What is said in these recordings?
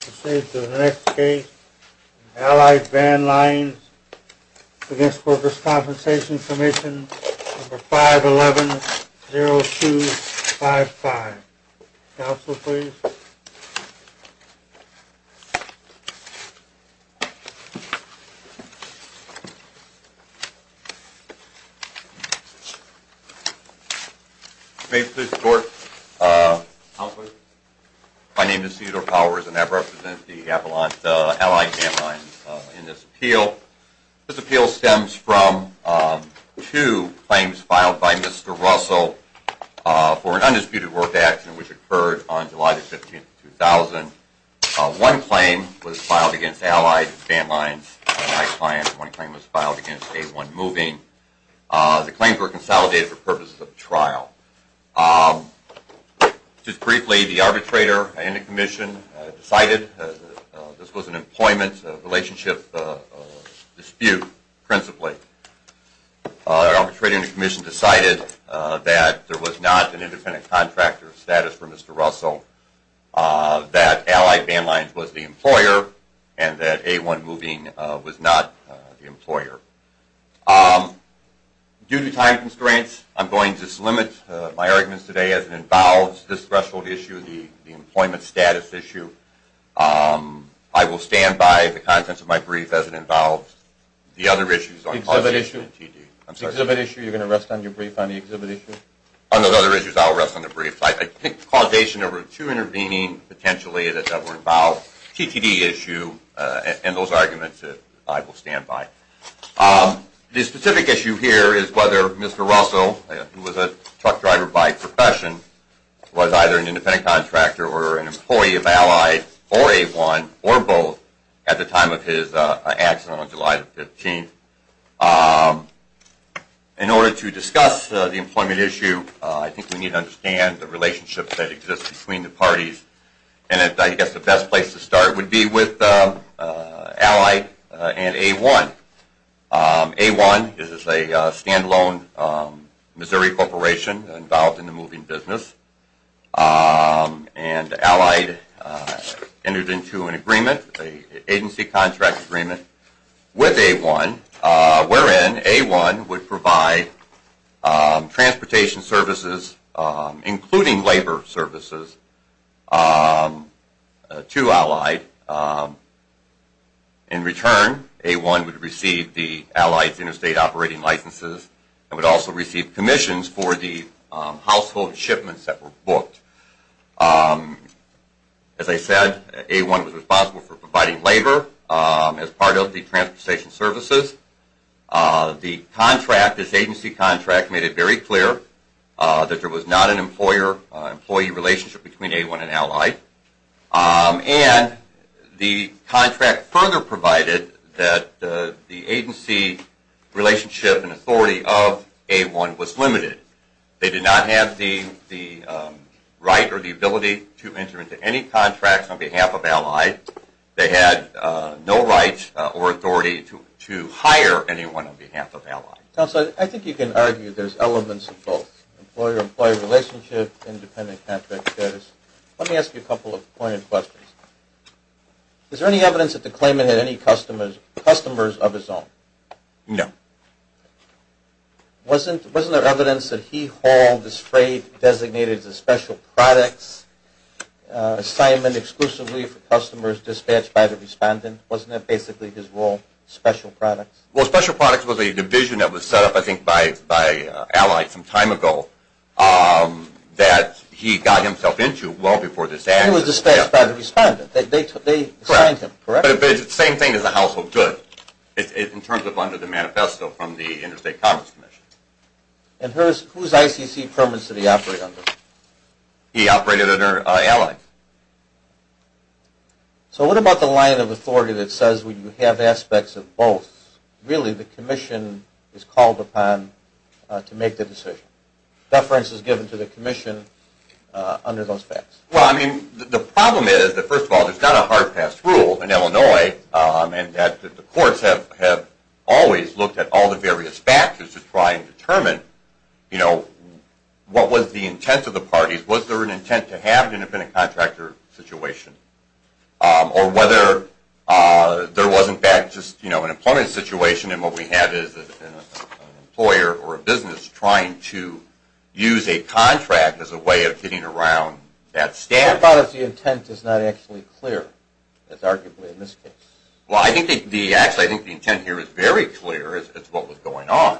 5-11-0255. Council, please. May it please the Court, My name is Cedar Powers and I represent the Avalanche Allied Van Lines in this appeal. This appeal stems from two claims filed by Mr. Russell for an undisputed worth action which occurred on July 15, 2000. One claim was filed against Allied Van Lines and my client. One claim was filed against A1 Moving. The claims were consolidated for purposes of trial. Just briefly, the arbitrator and the commission decided this was an employment relationship dispute principally. The arbitrator and the commission decided that there was not an independent contractor status for Mr. Russell, that Allied Van Lines was the employer, and that A1 Moving was not the employer. Due to time constraints, I'm going to limit my arguments today as it involves this threshold issue, the employment status issue. I will stand by the contents of my brief as it involves the other issues on causation and T.D. The exhibit issue, you're going to rest on your brief on the exhibit issue? On those other issues, I will rest on the brief. I think causation over two intervening potentially that were involved. T.T.D. issue and those arguments, I will stand by. The specific issue here is whether Mr. Russell, who was a truck driver by profession, was either an independent contractor or an employee of Allied or A1 or both at the time of his accident on July 15. In order to discuss the employment issue, I think we need to understand the relationships that exist between the parties. I guess the best place to start would be with Allied and A1. A1 is a stand-alone Missouri corporation involved in the moving business. And Allied entered into an agreement, an agency contract agreement, with A1 wherein A1 would provide transportation services, including labor services, to Allied. In return, A1 would receive the Allied's interstate operating licenses and would also receive commissions for the household shipments that were booked. As I said, A1 was responsible for providing labor as part of the transportation services. The contract, this agency contract, made it very clear that there was not an employee relationship between A1 and Allied. And the contract further provided that the agency relationship and authority of A1 was limited. They did not have the right or the ability to enter into any contracts on behalf of Allied. They had no rights or authority to hire anyone on behalf of Allied. Counsel, I think you can argue there's elements of both. Employer-employee relationship, independent contract status. Let me ask you a couple of pointed questions. Is there any evidence that the claimant had any customers of his own? No. Wasn't there evidence that he hauled his freight designated as a special products assignment exclusively for customers dispatched by the respondent? Wasn't that basically his role, special products? Well, special products was a division that was set up, I think, by Allied some time ago that he got himself into well before this act. He was dispatched by the respondent. They assigned him, correct? But it's the same thing as a household good in terms of under the manifesto from the Interstate Commerce Commission. And whose ICC permits did he operate under? He operated under Allied. So what about the line of authority that says you have aspects of both? Really, the commission is called upon to make the decision. Reference is given to the commission under those facts. Well, I mean, the problem is that, first of all, there's not a hard pass rule in Illinois. And the courts have always looked at all the various factors to try and determine, you know, what was the intent of the parties. Was there an intent to have an independent contractor situation? Or whether there was, in fact, just, you know, an employment situation. And what we have is an employer or a business trying to use a contract as a way of getting around that standard. What about if the intent is not actually clear? That's arguably a mistake. Well, I think the intent here is very clear as to what was going on.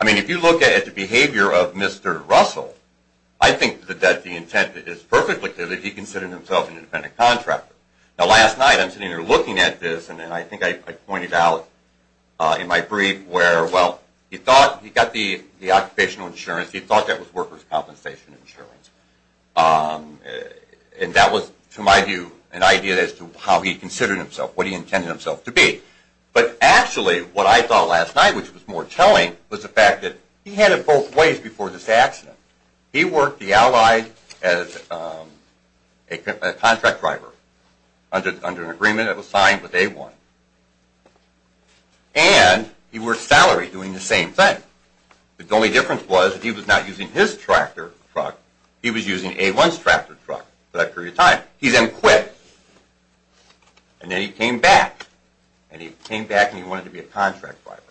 I mean, if you look at the behavior of Mr. Russell, I think that the intent is perfectly clear that he considered himself an independent contractor. Now, last night I'm sitting here looking at this, and I think I pointed out in my brief where, well, he thought he got the occupational insurance. He thought that was workers' compensation insurance. And that was, to my view, an idea as to how he considered himself, what he intended himself to be. But actually what I thought last night, which was more telling, was the fact that he had it both ways before this accident. He worked the allies as a contract driver under an agreement that was signed with A1. And he worked salary doing the same thing. The only difference was that he was not using his tractor truck. He was using A1's tractor truck for that period of time. He then quit. And then he came back. And he came back and he wanted to be a contract driver.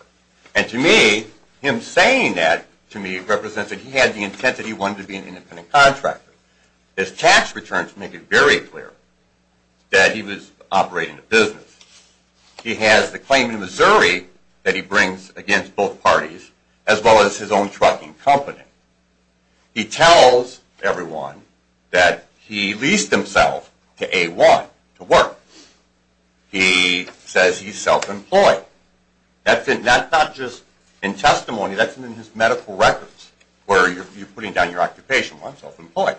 And to me, him saying that, to me, represents that he had the intent that he wanted to be an independent contractor. His tax returns make it very clear that he was operating a business. He has the claim in Missouri that he brings against both parties, as well as his own trucking company. He tells everyone that he leased himself to A1 to work. He says he's self-employed. That's not just in testimony. That's in his medical records where you're putting down your occupation. Well, I'm self-employed.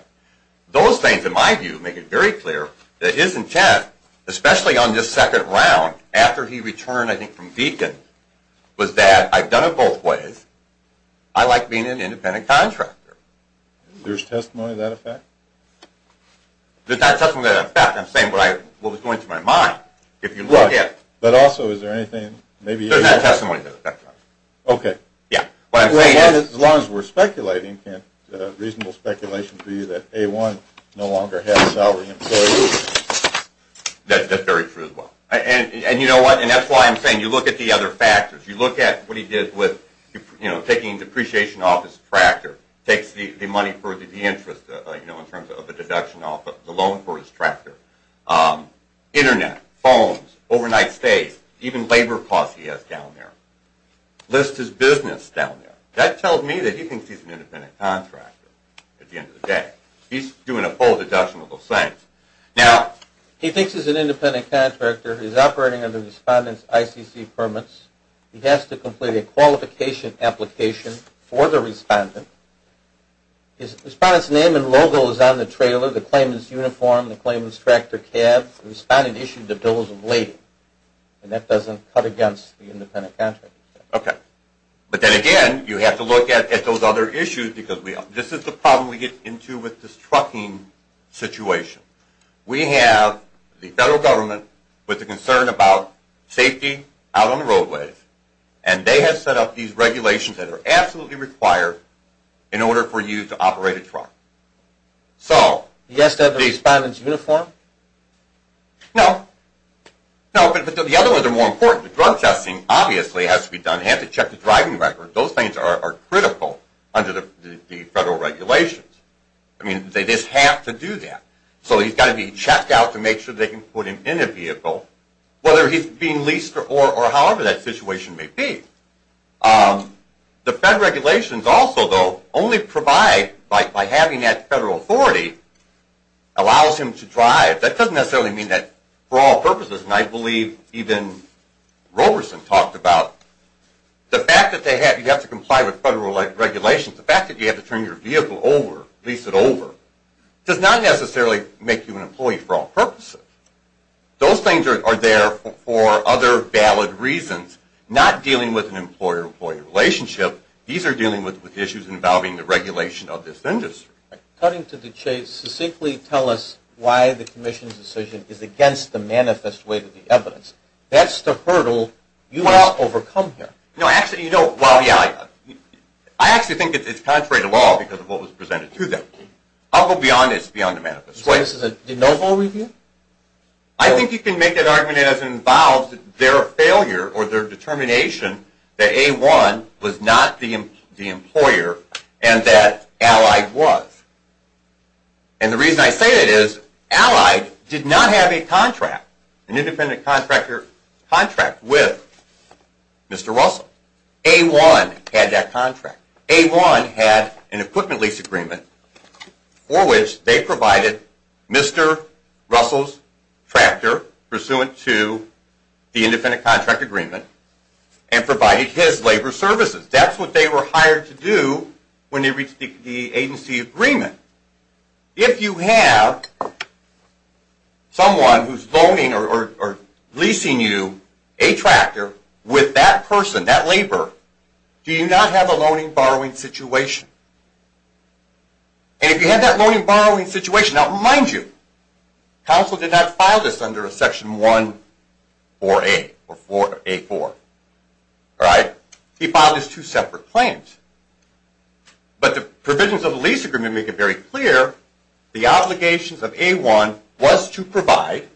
Those things, in my view, make it very clear that his intent, especially on this second round, after he returned, I think, from Deakin, was that I've done it both ways. I like being an independent contractor. There's testimony to that effect? There's not testimony to that effect. I'm saying what was going through my mind. If you look at... But also, is there anything... There's not testimony to that effect. What I'm saying is... As long as we're speculating, Kent, reasonable speculation for you that A1 no longer had a salary employee. That's very true as well. And you know what? And that's why I'm saying you look at the other factors. You look at what he did with taking depreciation off his tractor. Takes the money for the de-interest in terms of a deduction off the loan for his tractor. Internet, phones, overnight stays, even labor costs he has down there. Lists his business down there. That tells me that he thinks he's an independent contractor at the end of the day. He's doing a full deduction of those things. Now, he thinks he's an independent contractor. He's operating under the respondent's ICC permits. He has to complete a qualification application for the respondent. The respondent's name and logo is on the trailer. The claimant's uniform. The claimant's tractor cab. The respondent issued the bills of lading. And that doesn't cut against the independent contractor. Okay. But then again, you have to look at those other issues because we... This is the problem we get into with this trucking situation. We have the federal government with a concern about safety out on the roadways. And they have set up these regulations that are absolutely required in order for you to operate a truck. So... He has to have the respondent's uniform? No. No, but the other ones are more important. The drug testing obviously has to be done. You have to check the driving record. Those things are critical under the federal regulations. I mean, they just have to do that. So he's got to be checked out to make sure they can put him in a vehicle, whether he's being leased or however that situation may be. The fed regulations also, though, only provide by having that federal authority, allows him to drive. That doesn't necessarily mean that for all purposes, and I believe even Roberson talked about it. You have to comply with federal regulations. The fact that you have to turn your vehicle over, lease it over, does not necessarily make you an employee for all purposes. Those things are there for other valid reasons, not dealing with an employer-employee relationship. These are dealing with issues involving the regulation of this industry. Cutting to the chase, simply tell us why the commission's decision is against the manifest weight of the evidence. That's the hurdle you must overcome here. No, actually, you know, well, yeah. I actually think it's contrary to law because of what was presented to them. I'll go beyond this, beyond the manifest weight. So this is a de novo review? I think you can make that argument as it involves their failure or their determination that A1 was not the employer and that Allied was. And the reason I say that is Allied did not have a contract, an independent contractor contract with Mr. Russell. A1 had that contract. A1 had an equipment lease agreement for which they provided Mr. Russell's tractor, pursuant to the independent contract agreement, and provided his labor services. That's what they were hired to do when they reached the agency agreement. If you have someone who's loaning or leasing you a tractor with that person, that labor, do you not have a loaning-borrowing situation? And if you have that loaning-borrowing situation, now, mind you, counsel did not file this under a Section 1A4. He filed this two separate claims. But the provisions of the lease agreement make it very clear the obligations of A1 was to provide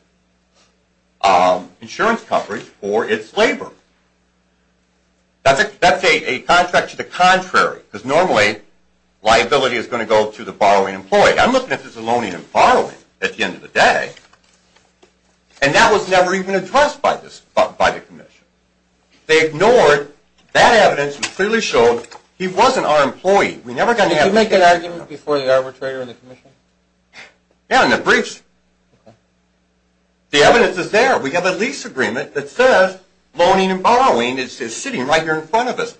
insurance coverage for its labor. That's a contract to the contrary, because normally liability is going to go to the borrowing employee. I'm looking at this loaning and borrowing at the end of the day, and that was never even addressed by the Commission. They ignored that evidence and clearly showed he wasn't our employee. Did you make that argument before the arbitrator and the Commission? Yeah, in the briefs. The evidence is there. We have a lease agreement that says loaning and borrowing is sitting right here in front of us.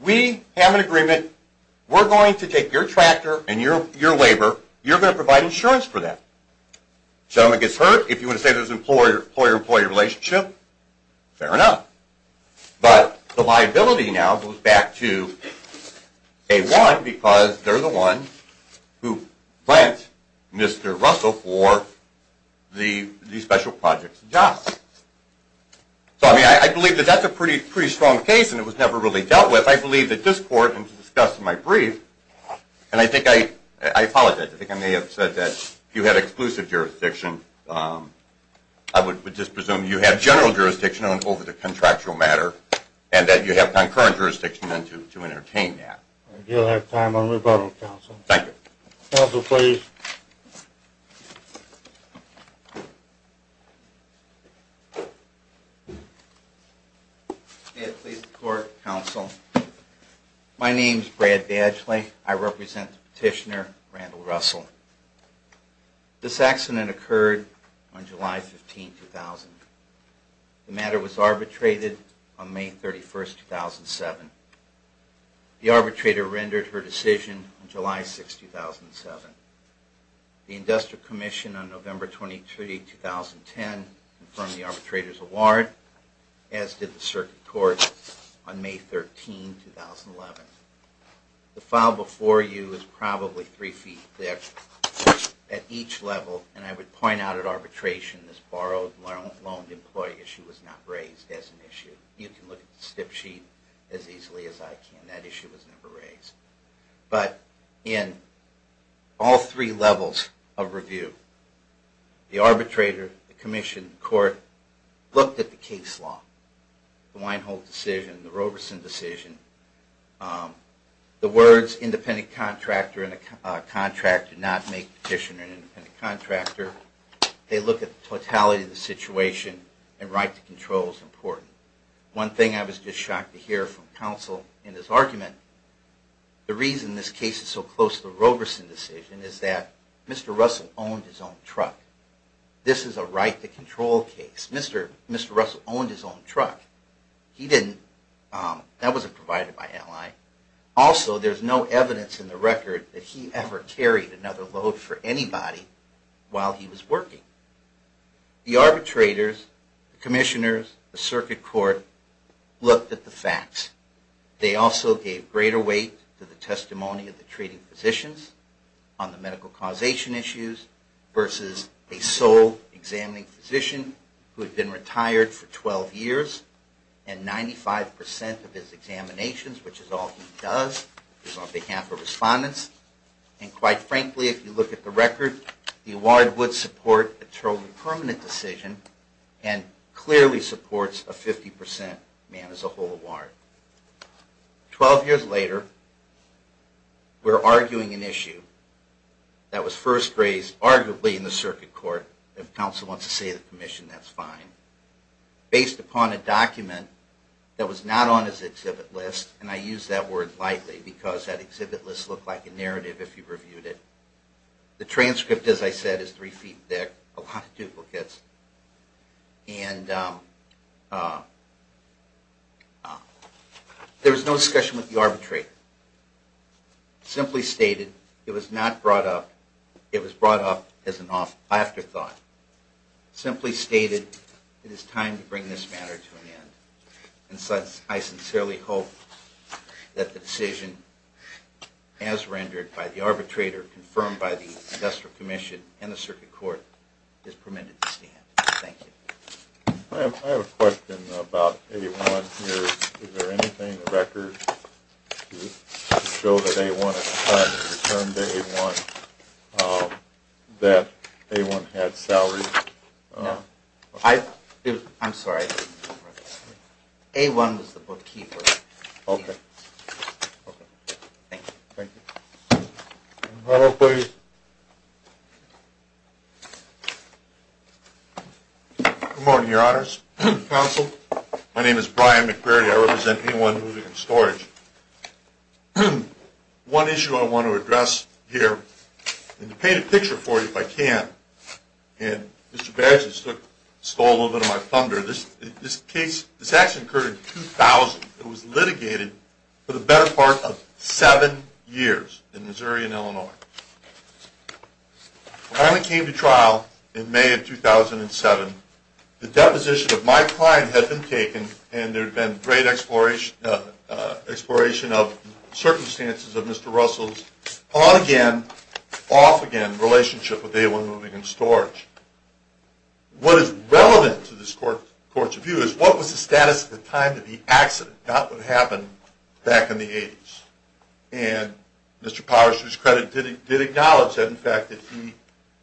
We have an agreement. We're going to take your tractor and your labor. You're going to provide insurance for that. Gentleman gets hurt. If you want to say there's an employer-employee relationship, fair enough. But the liability now goes back to A1 because they're the one who lent Mr. Russell for the special projects job. So, I mean, I believe that that's a pretty strong case and it was never really dealt with. I believe that this court, and to discuss in my brief, and I think I apologize. I think I may have said that if you had exclusive jurisdiction, I would just presume you had general jurisdiction over the contractual matter and that you have concurrent jurisdiction to entertain that. You'll have time on rebuttal, Counsel. Thank you. Counsel, please. May it please the Court, Counsel. My name is Brad Badgley. I represent Petitioner Randall Russell. This accident occurred on July 15, 2000. The matter was arbitrated on May 31, 2007. The arbitrator rendered her decision on July 6, 2007. The Industrial Commission on November 23, 2010 confirmed the arbitrator's award, as did the Circuit Court on May 13, 2011. The file before you is probably three feet thick. At each level, and I would point out at arbitration, this borrowed-loaned-employee issue was not raised as an issue. You can look at the stip sheet as easily as I can. That issue was never raised. But in all three levels of review, the arbitrator, the Commission, and the Court looked at the case law, the Weinhold decision, the Roberson decision. The words, independent contractor and a contract, do not make Petitioner an independent contractor. They look at the totality of the situation, and right to control is important. One thing I was just shocked to hear from Counsel in his argument, the reason this case is so close to the Roberson decision is that Mr. Russell owned his own truck. This is a right to control case. Mr. Russell owned his own truck. That wasn't provided by LI. Also, there's no evidence in the record that he ever carried another load for anybody while he was working. The arbitrators, the Commissioners, the Circuit Court looked at the facts. They also gave greater weight to the testimony of the treating physicians on the medical causation issues versus a sole examining physician who had been retired for 12 years. And 95% of his examinations, which is all he does, is on behalf of respondents. And quite frankly, if you look at the record, the award would support a totally permanent decision and clearly supports a 50% man as a whole award. Twelve years later, we're arguing an issue that was first raised arguably in the Circuit Court. If Counsel wants to see the Commission, that's fine. Based upon a document that was not on his exhibit list, and I use that word lightly because that exhibit list looked like a narrative if you reviewed it. The transcript, as I said, is three feet thick, a lot of duplicates. There was no discussion with the arbitrator. Simply stated, it was brought up as an afterthought. Simply stated, it is time to bring this matter to an end. And so I sincerely hope that the decision, as rendered by the arbitrator, confirmed by the Industrial Commission and the Circuit Court, is permitted to stand. Thank you. I have a question about A-1 here. Is there anything in the record to show that A-1 had returned to A-1, that A-1 had salary? No. I'm sorry. A-1 was the bookkeeper. Okay. Okay. Thank you. Thank you. Good morning, Your Honors. Counsel. My name is Brian McVeary. I represent A-1 Music and Storage. One issue I want to address here, and to paint a picture for you, if I can, and Mr. Bergeson stole a little bit of my thunder, this action occurred in 2000. It was litigated for the better part of seven years in Missouri and Illinois. When I came to trial in May of 2007, the deposition of my client had been taken and there had been great exploration of circumstances of Mr. Russell's on-again, off-again relationship with A-1 Music and Storage. What is relevant to this court's review is what was the status at the time that the accident that would happen back in the 80s. And Mr. Powers, to his credit, did acknowledge that, in fact,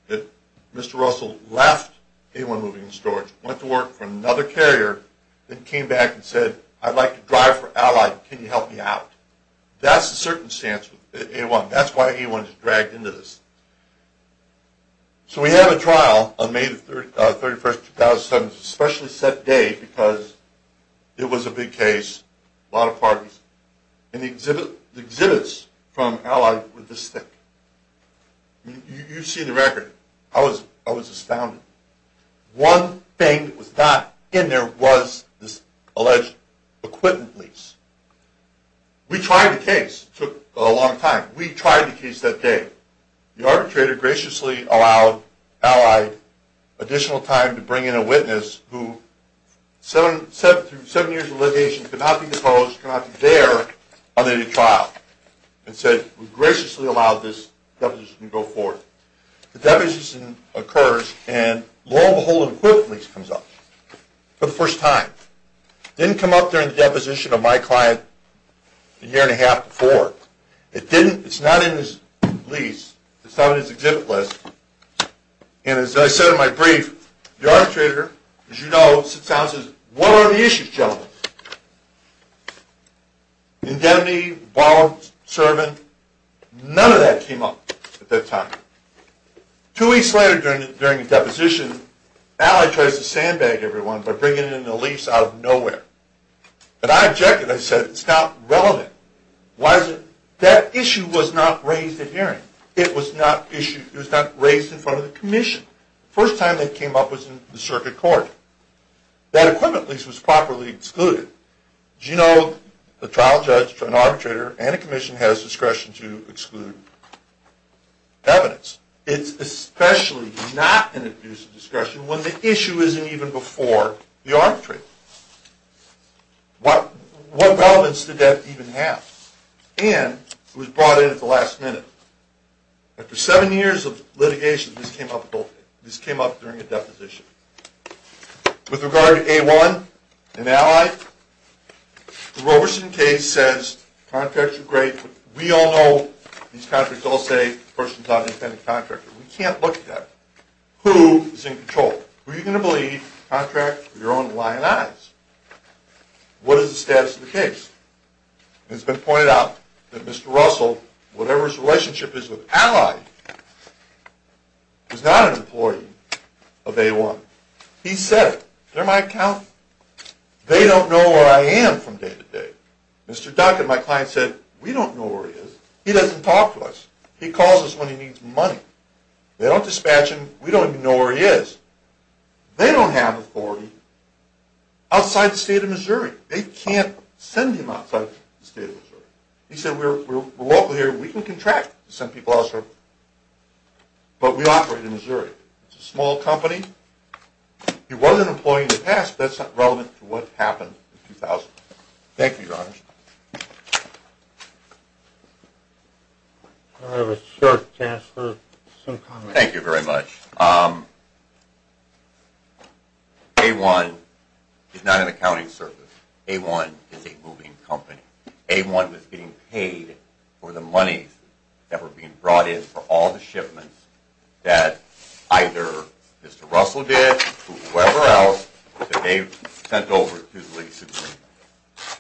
that Mr. Russell left A-1 Music and Storage, went to work for another carrier, then came back and said, I'd like to drive for Allied. Can you help me out? That's the circumstance with A-1. That's why A-1 is dragged into this. So we have a trial on May 31, 2007. It's a specially set day because it was a big case, a lot of parties, and the exhibits from Allied were this thick. You've seen the record. I was astounded. One thing that was not in there was this alleged acquittal lease. We tried the case. It took a long time. We tried the case that day. The arbitrator graciously allowed Allied additional time to bring in a witness who, seven years of litigation, could not be disposed, could not be there on the day of trial, and said, we graciously allow this deposition to go forth. The deposition occurs, and lo and behold, an acquittal lease comes up for the first time. It didn't come up during the deposition of my client a year and a half before. It's not in his lease. It's not on his exhibit list. And as I said in my brief, the arbitrator, as you know, sits down and says, what are the issues, gentlemen? Indemnity, bond, servant, none of that came up at that time. Two weeks later during the deposition, Allied tries to sandbag everyone by bringing in a lease out of nowhere. And I objected. I said, it's not relevant. Why is it? That issue was not raised at hearing. It was not raised in front of the commission. The first time that came up was in the circuit court. That acquittal lease was properly excluded. As you know, the trial judge, an arbitrator, and a commission has discretion to exclude evidence. It's especially not an abuse of discretion when the issue isn't even before the arbitrator. What relevance did that even have? And it was brought in at the last minute. After seven years of litigation, this came up during a deposition. With regard to A1 and Allied, the Roberson case says contracts are great. We all know these contracts all say persons are independent contractors. We can't look at that. Who is in control? Who are you going to believe contracts with your own lying eyes? What is the status of the case? It's been pointed out that Mr. Russell, whatever his relationship is with Allied, was not an employee of A1. He said it. They're my accountant. They don't know where I am from day to day. Mr. Duncan, my client, said, we don't know where he is. He doesn't talk to us. He calls us when he needs money. They don't dispatch him. They don't have authority outside the state of Missouri. They can't send him outside the state of Missouri. He said, we're local here. We can contract to send people elsewhere, but we operate in Missouri. It's a small company. He was an employee in the past, but that's not relevant to what happened in 2000. Thank you, Your Honors. I have a short chance for some comments. Thank you very much. A1 is not an accounting service. A1 is a moving company. A1 was getting paid for the monies that were being brought in for all the shipments that either Mr. Russell did or whoever else that they sent over to the League of Supreme Court.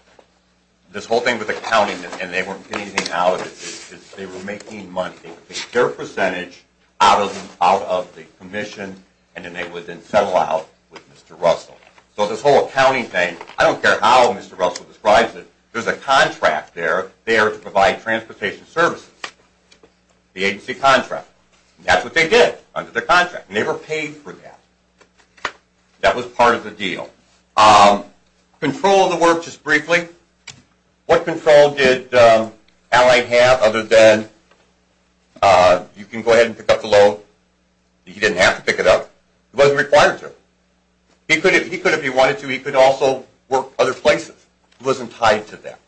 This whole thing with accounting, and they weren't getting anything out of it, is they were making money. They would take their percentage out of the commission, and then they would then settle out with Mr. Russell. So this whole accounting thing, I don't care how Mr. Russell describes it, there's a contract there to provide transportation services, the agency contract. That's what they did under the contract. They were paid for that. That was part of the deal. Control of the work, just briefly. What control did Allied have other than you can go ahead and pick up the load? He didn't have to pick it up. He wasn't required to. He could if he wanted to. He could also work other places. He wasn't tied to that.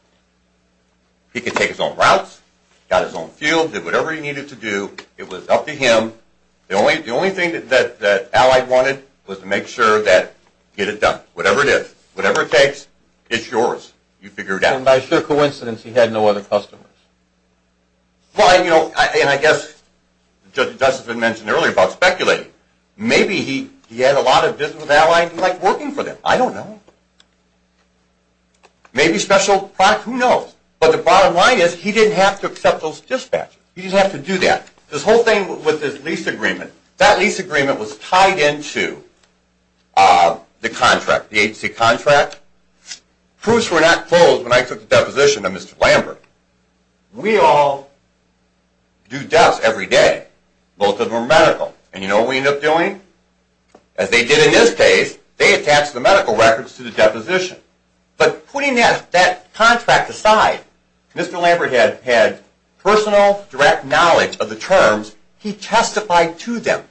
He could take his own routes, got his own fuel, did whatever he needed to do. It was up to him. The only thing that Allied wanted was to make sure that get it done, whatever it is. You figure it out. And by sheer coincidence, he had no other customers. Well, you know, and I guess, just as has been mentioned earlier about speculating, maybe he had a lot of business with Allied. He liked working for them. I don't know. Maybe special products. Who knows? But the bottom line is he didn't have to accept those dispatches. He didn't have to do that. This whole thing with his lease agreement, that lease agreement was tied into the contract, the agency contract. Proofs were not closed when I took the deposition of Mr. Lambert. We all do deaths every day. Both of them are medical. And you know what we end up doing? As they did in this case, they attached the medical records to the deposition. But putting that contract aside, Mr. Lambert had personal, direct knowledge of the terms. He testified to them.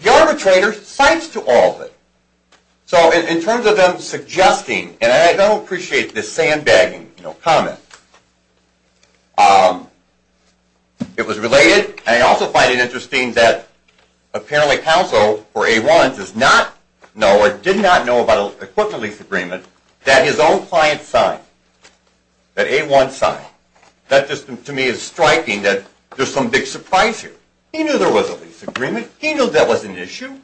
The arbitrator cites to all of it. So in terms of them suggesting, and I don't appreciate this sandbagging comment, it was related. And I also find it interesting that apparently counsel for A1 does not know or did not know about an equipment lease agreement that his own client signed, that A1 signed. That just, to me, is striking that there's some big surprise here. He knew there was a lease agreement. He knew that was an issue.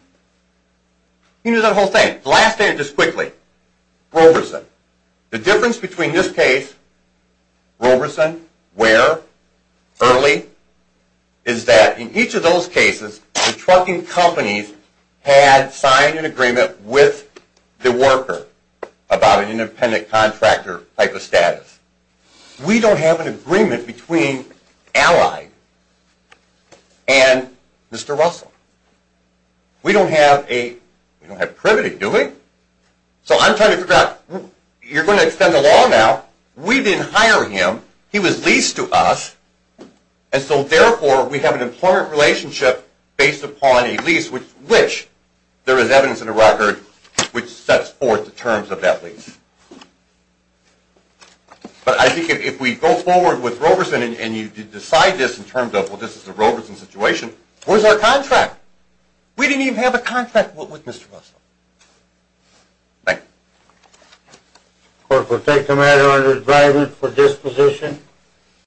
He knew that whole thing. The last thing, just quickly, Roberson. The difference between this case, Roberson, Ware, Early, is that in each of those cases, the trucking companies had signed an agreement with the worker about an independent contractor type of status. We don't have an agreement between Allied and Mr. Russell. We don't have privity, do we? So I'm trying to figure out, you're going to extend the law now. We didn't hire him. He was leased to us. And so therefore, we have an employment relationship based upon a lease, which there is evidence in the record which sets forth the terms of that lease. But I think if we go forward with Roberson and you decide this in terms of, well, this is the Roberson situation, where's our contract? We didn't even have a contract with Mr. Russell. Thank you. The court will take the matter under driver for disposition.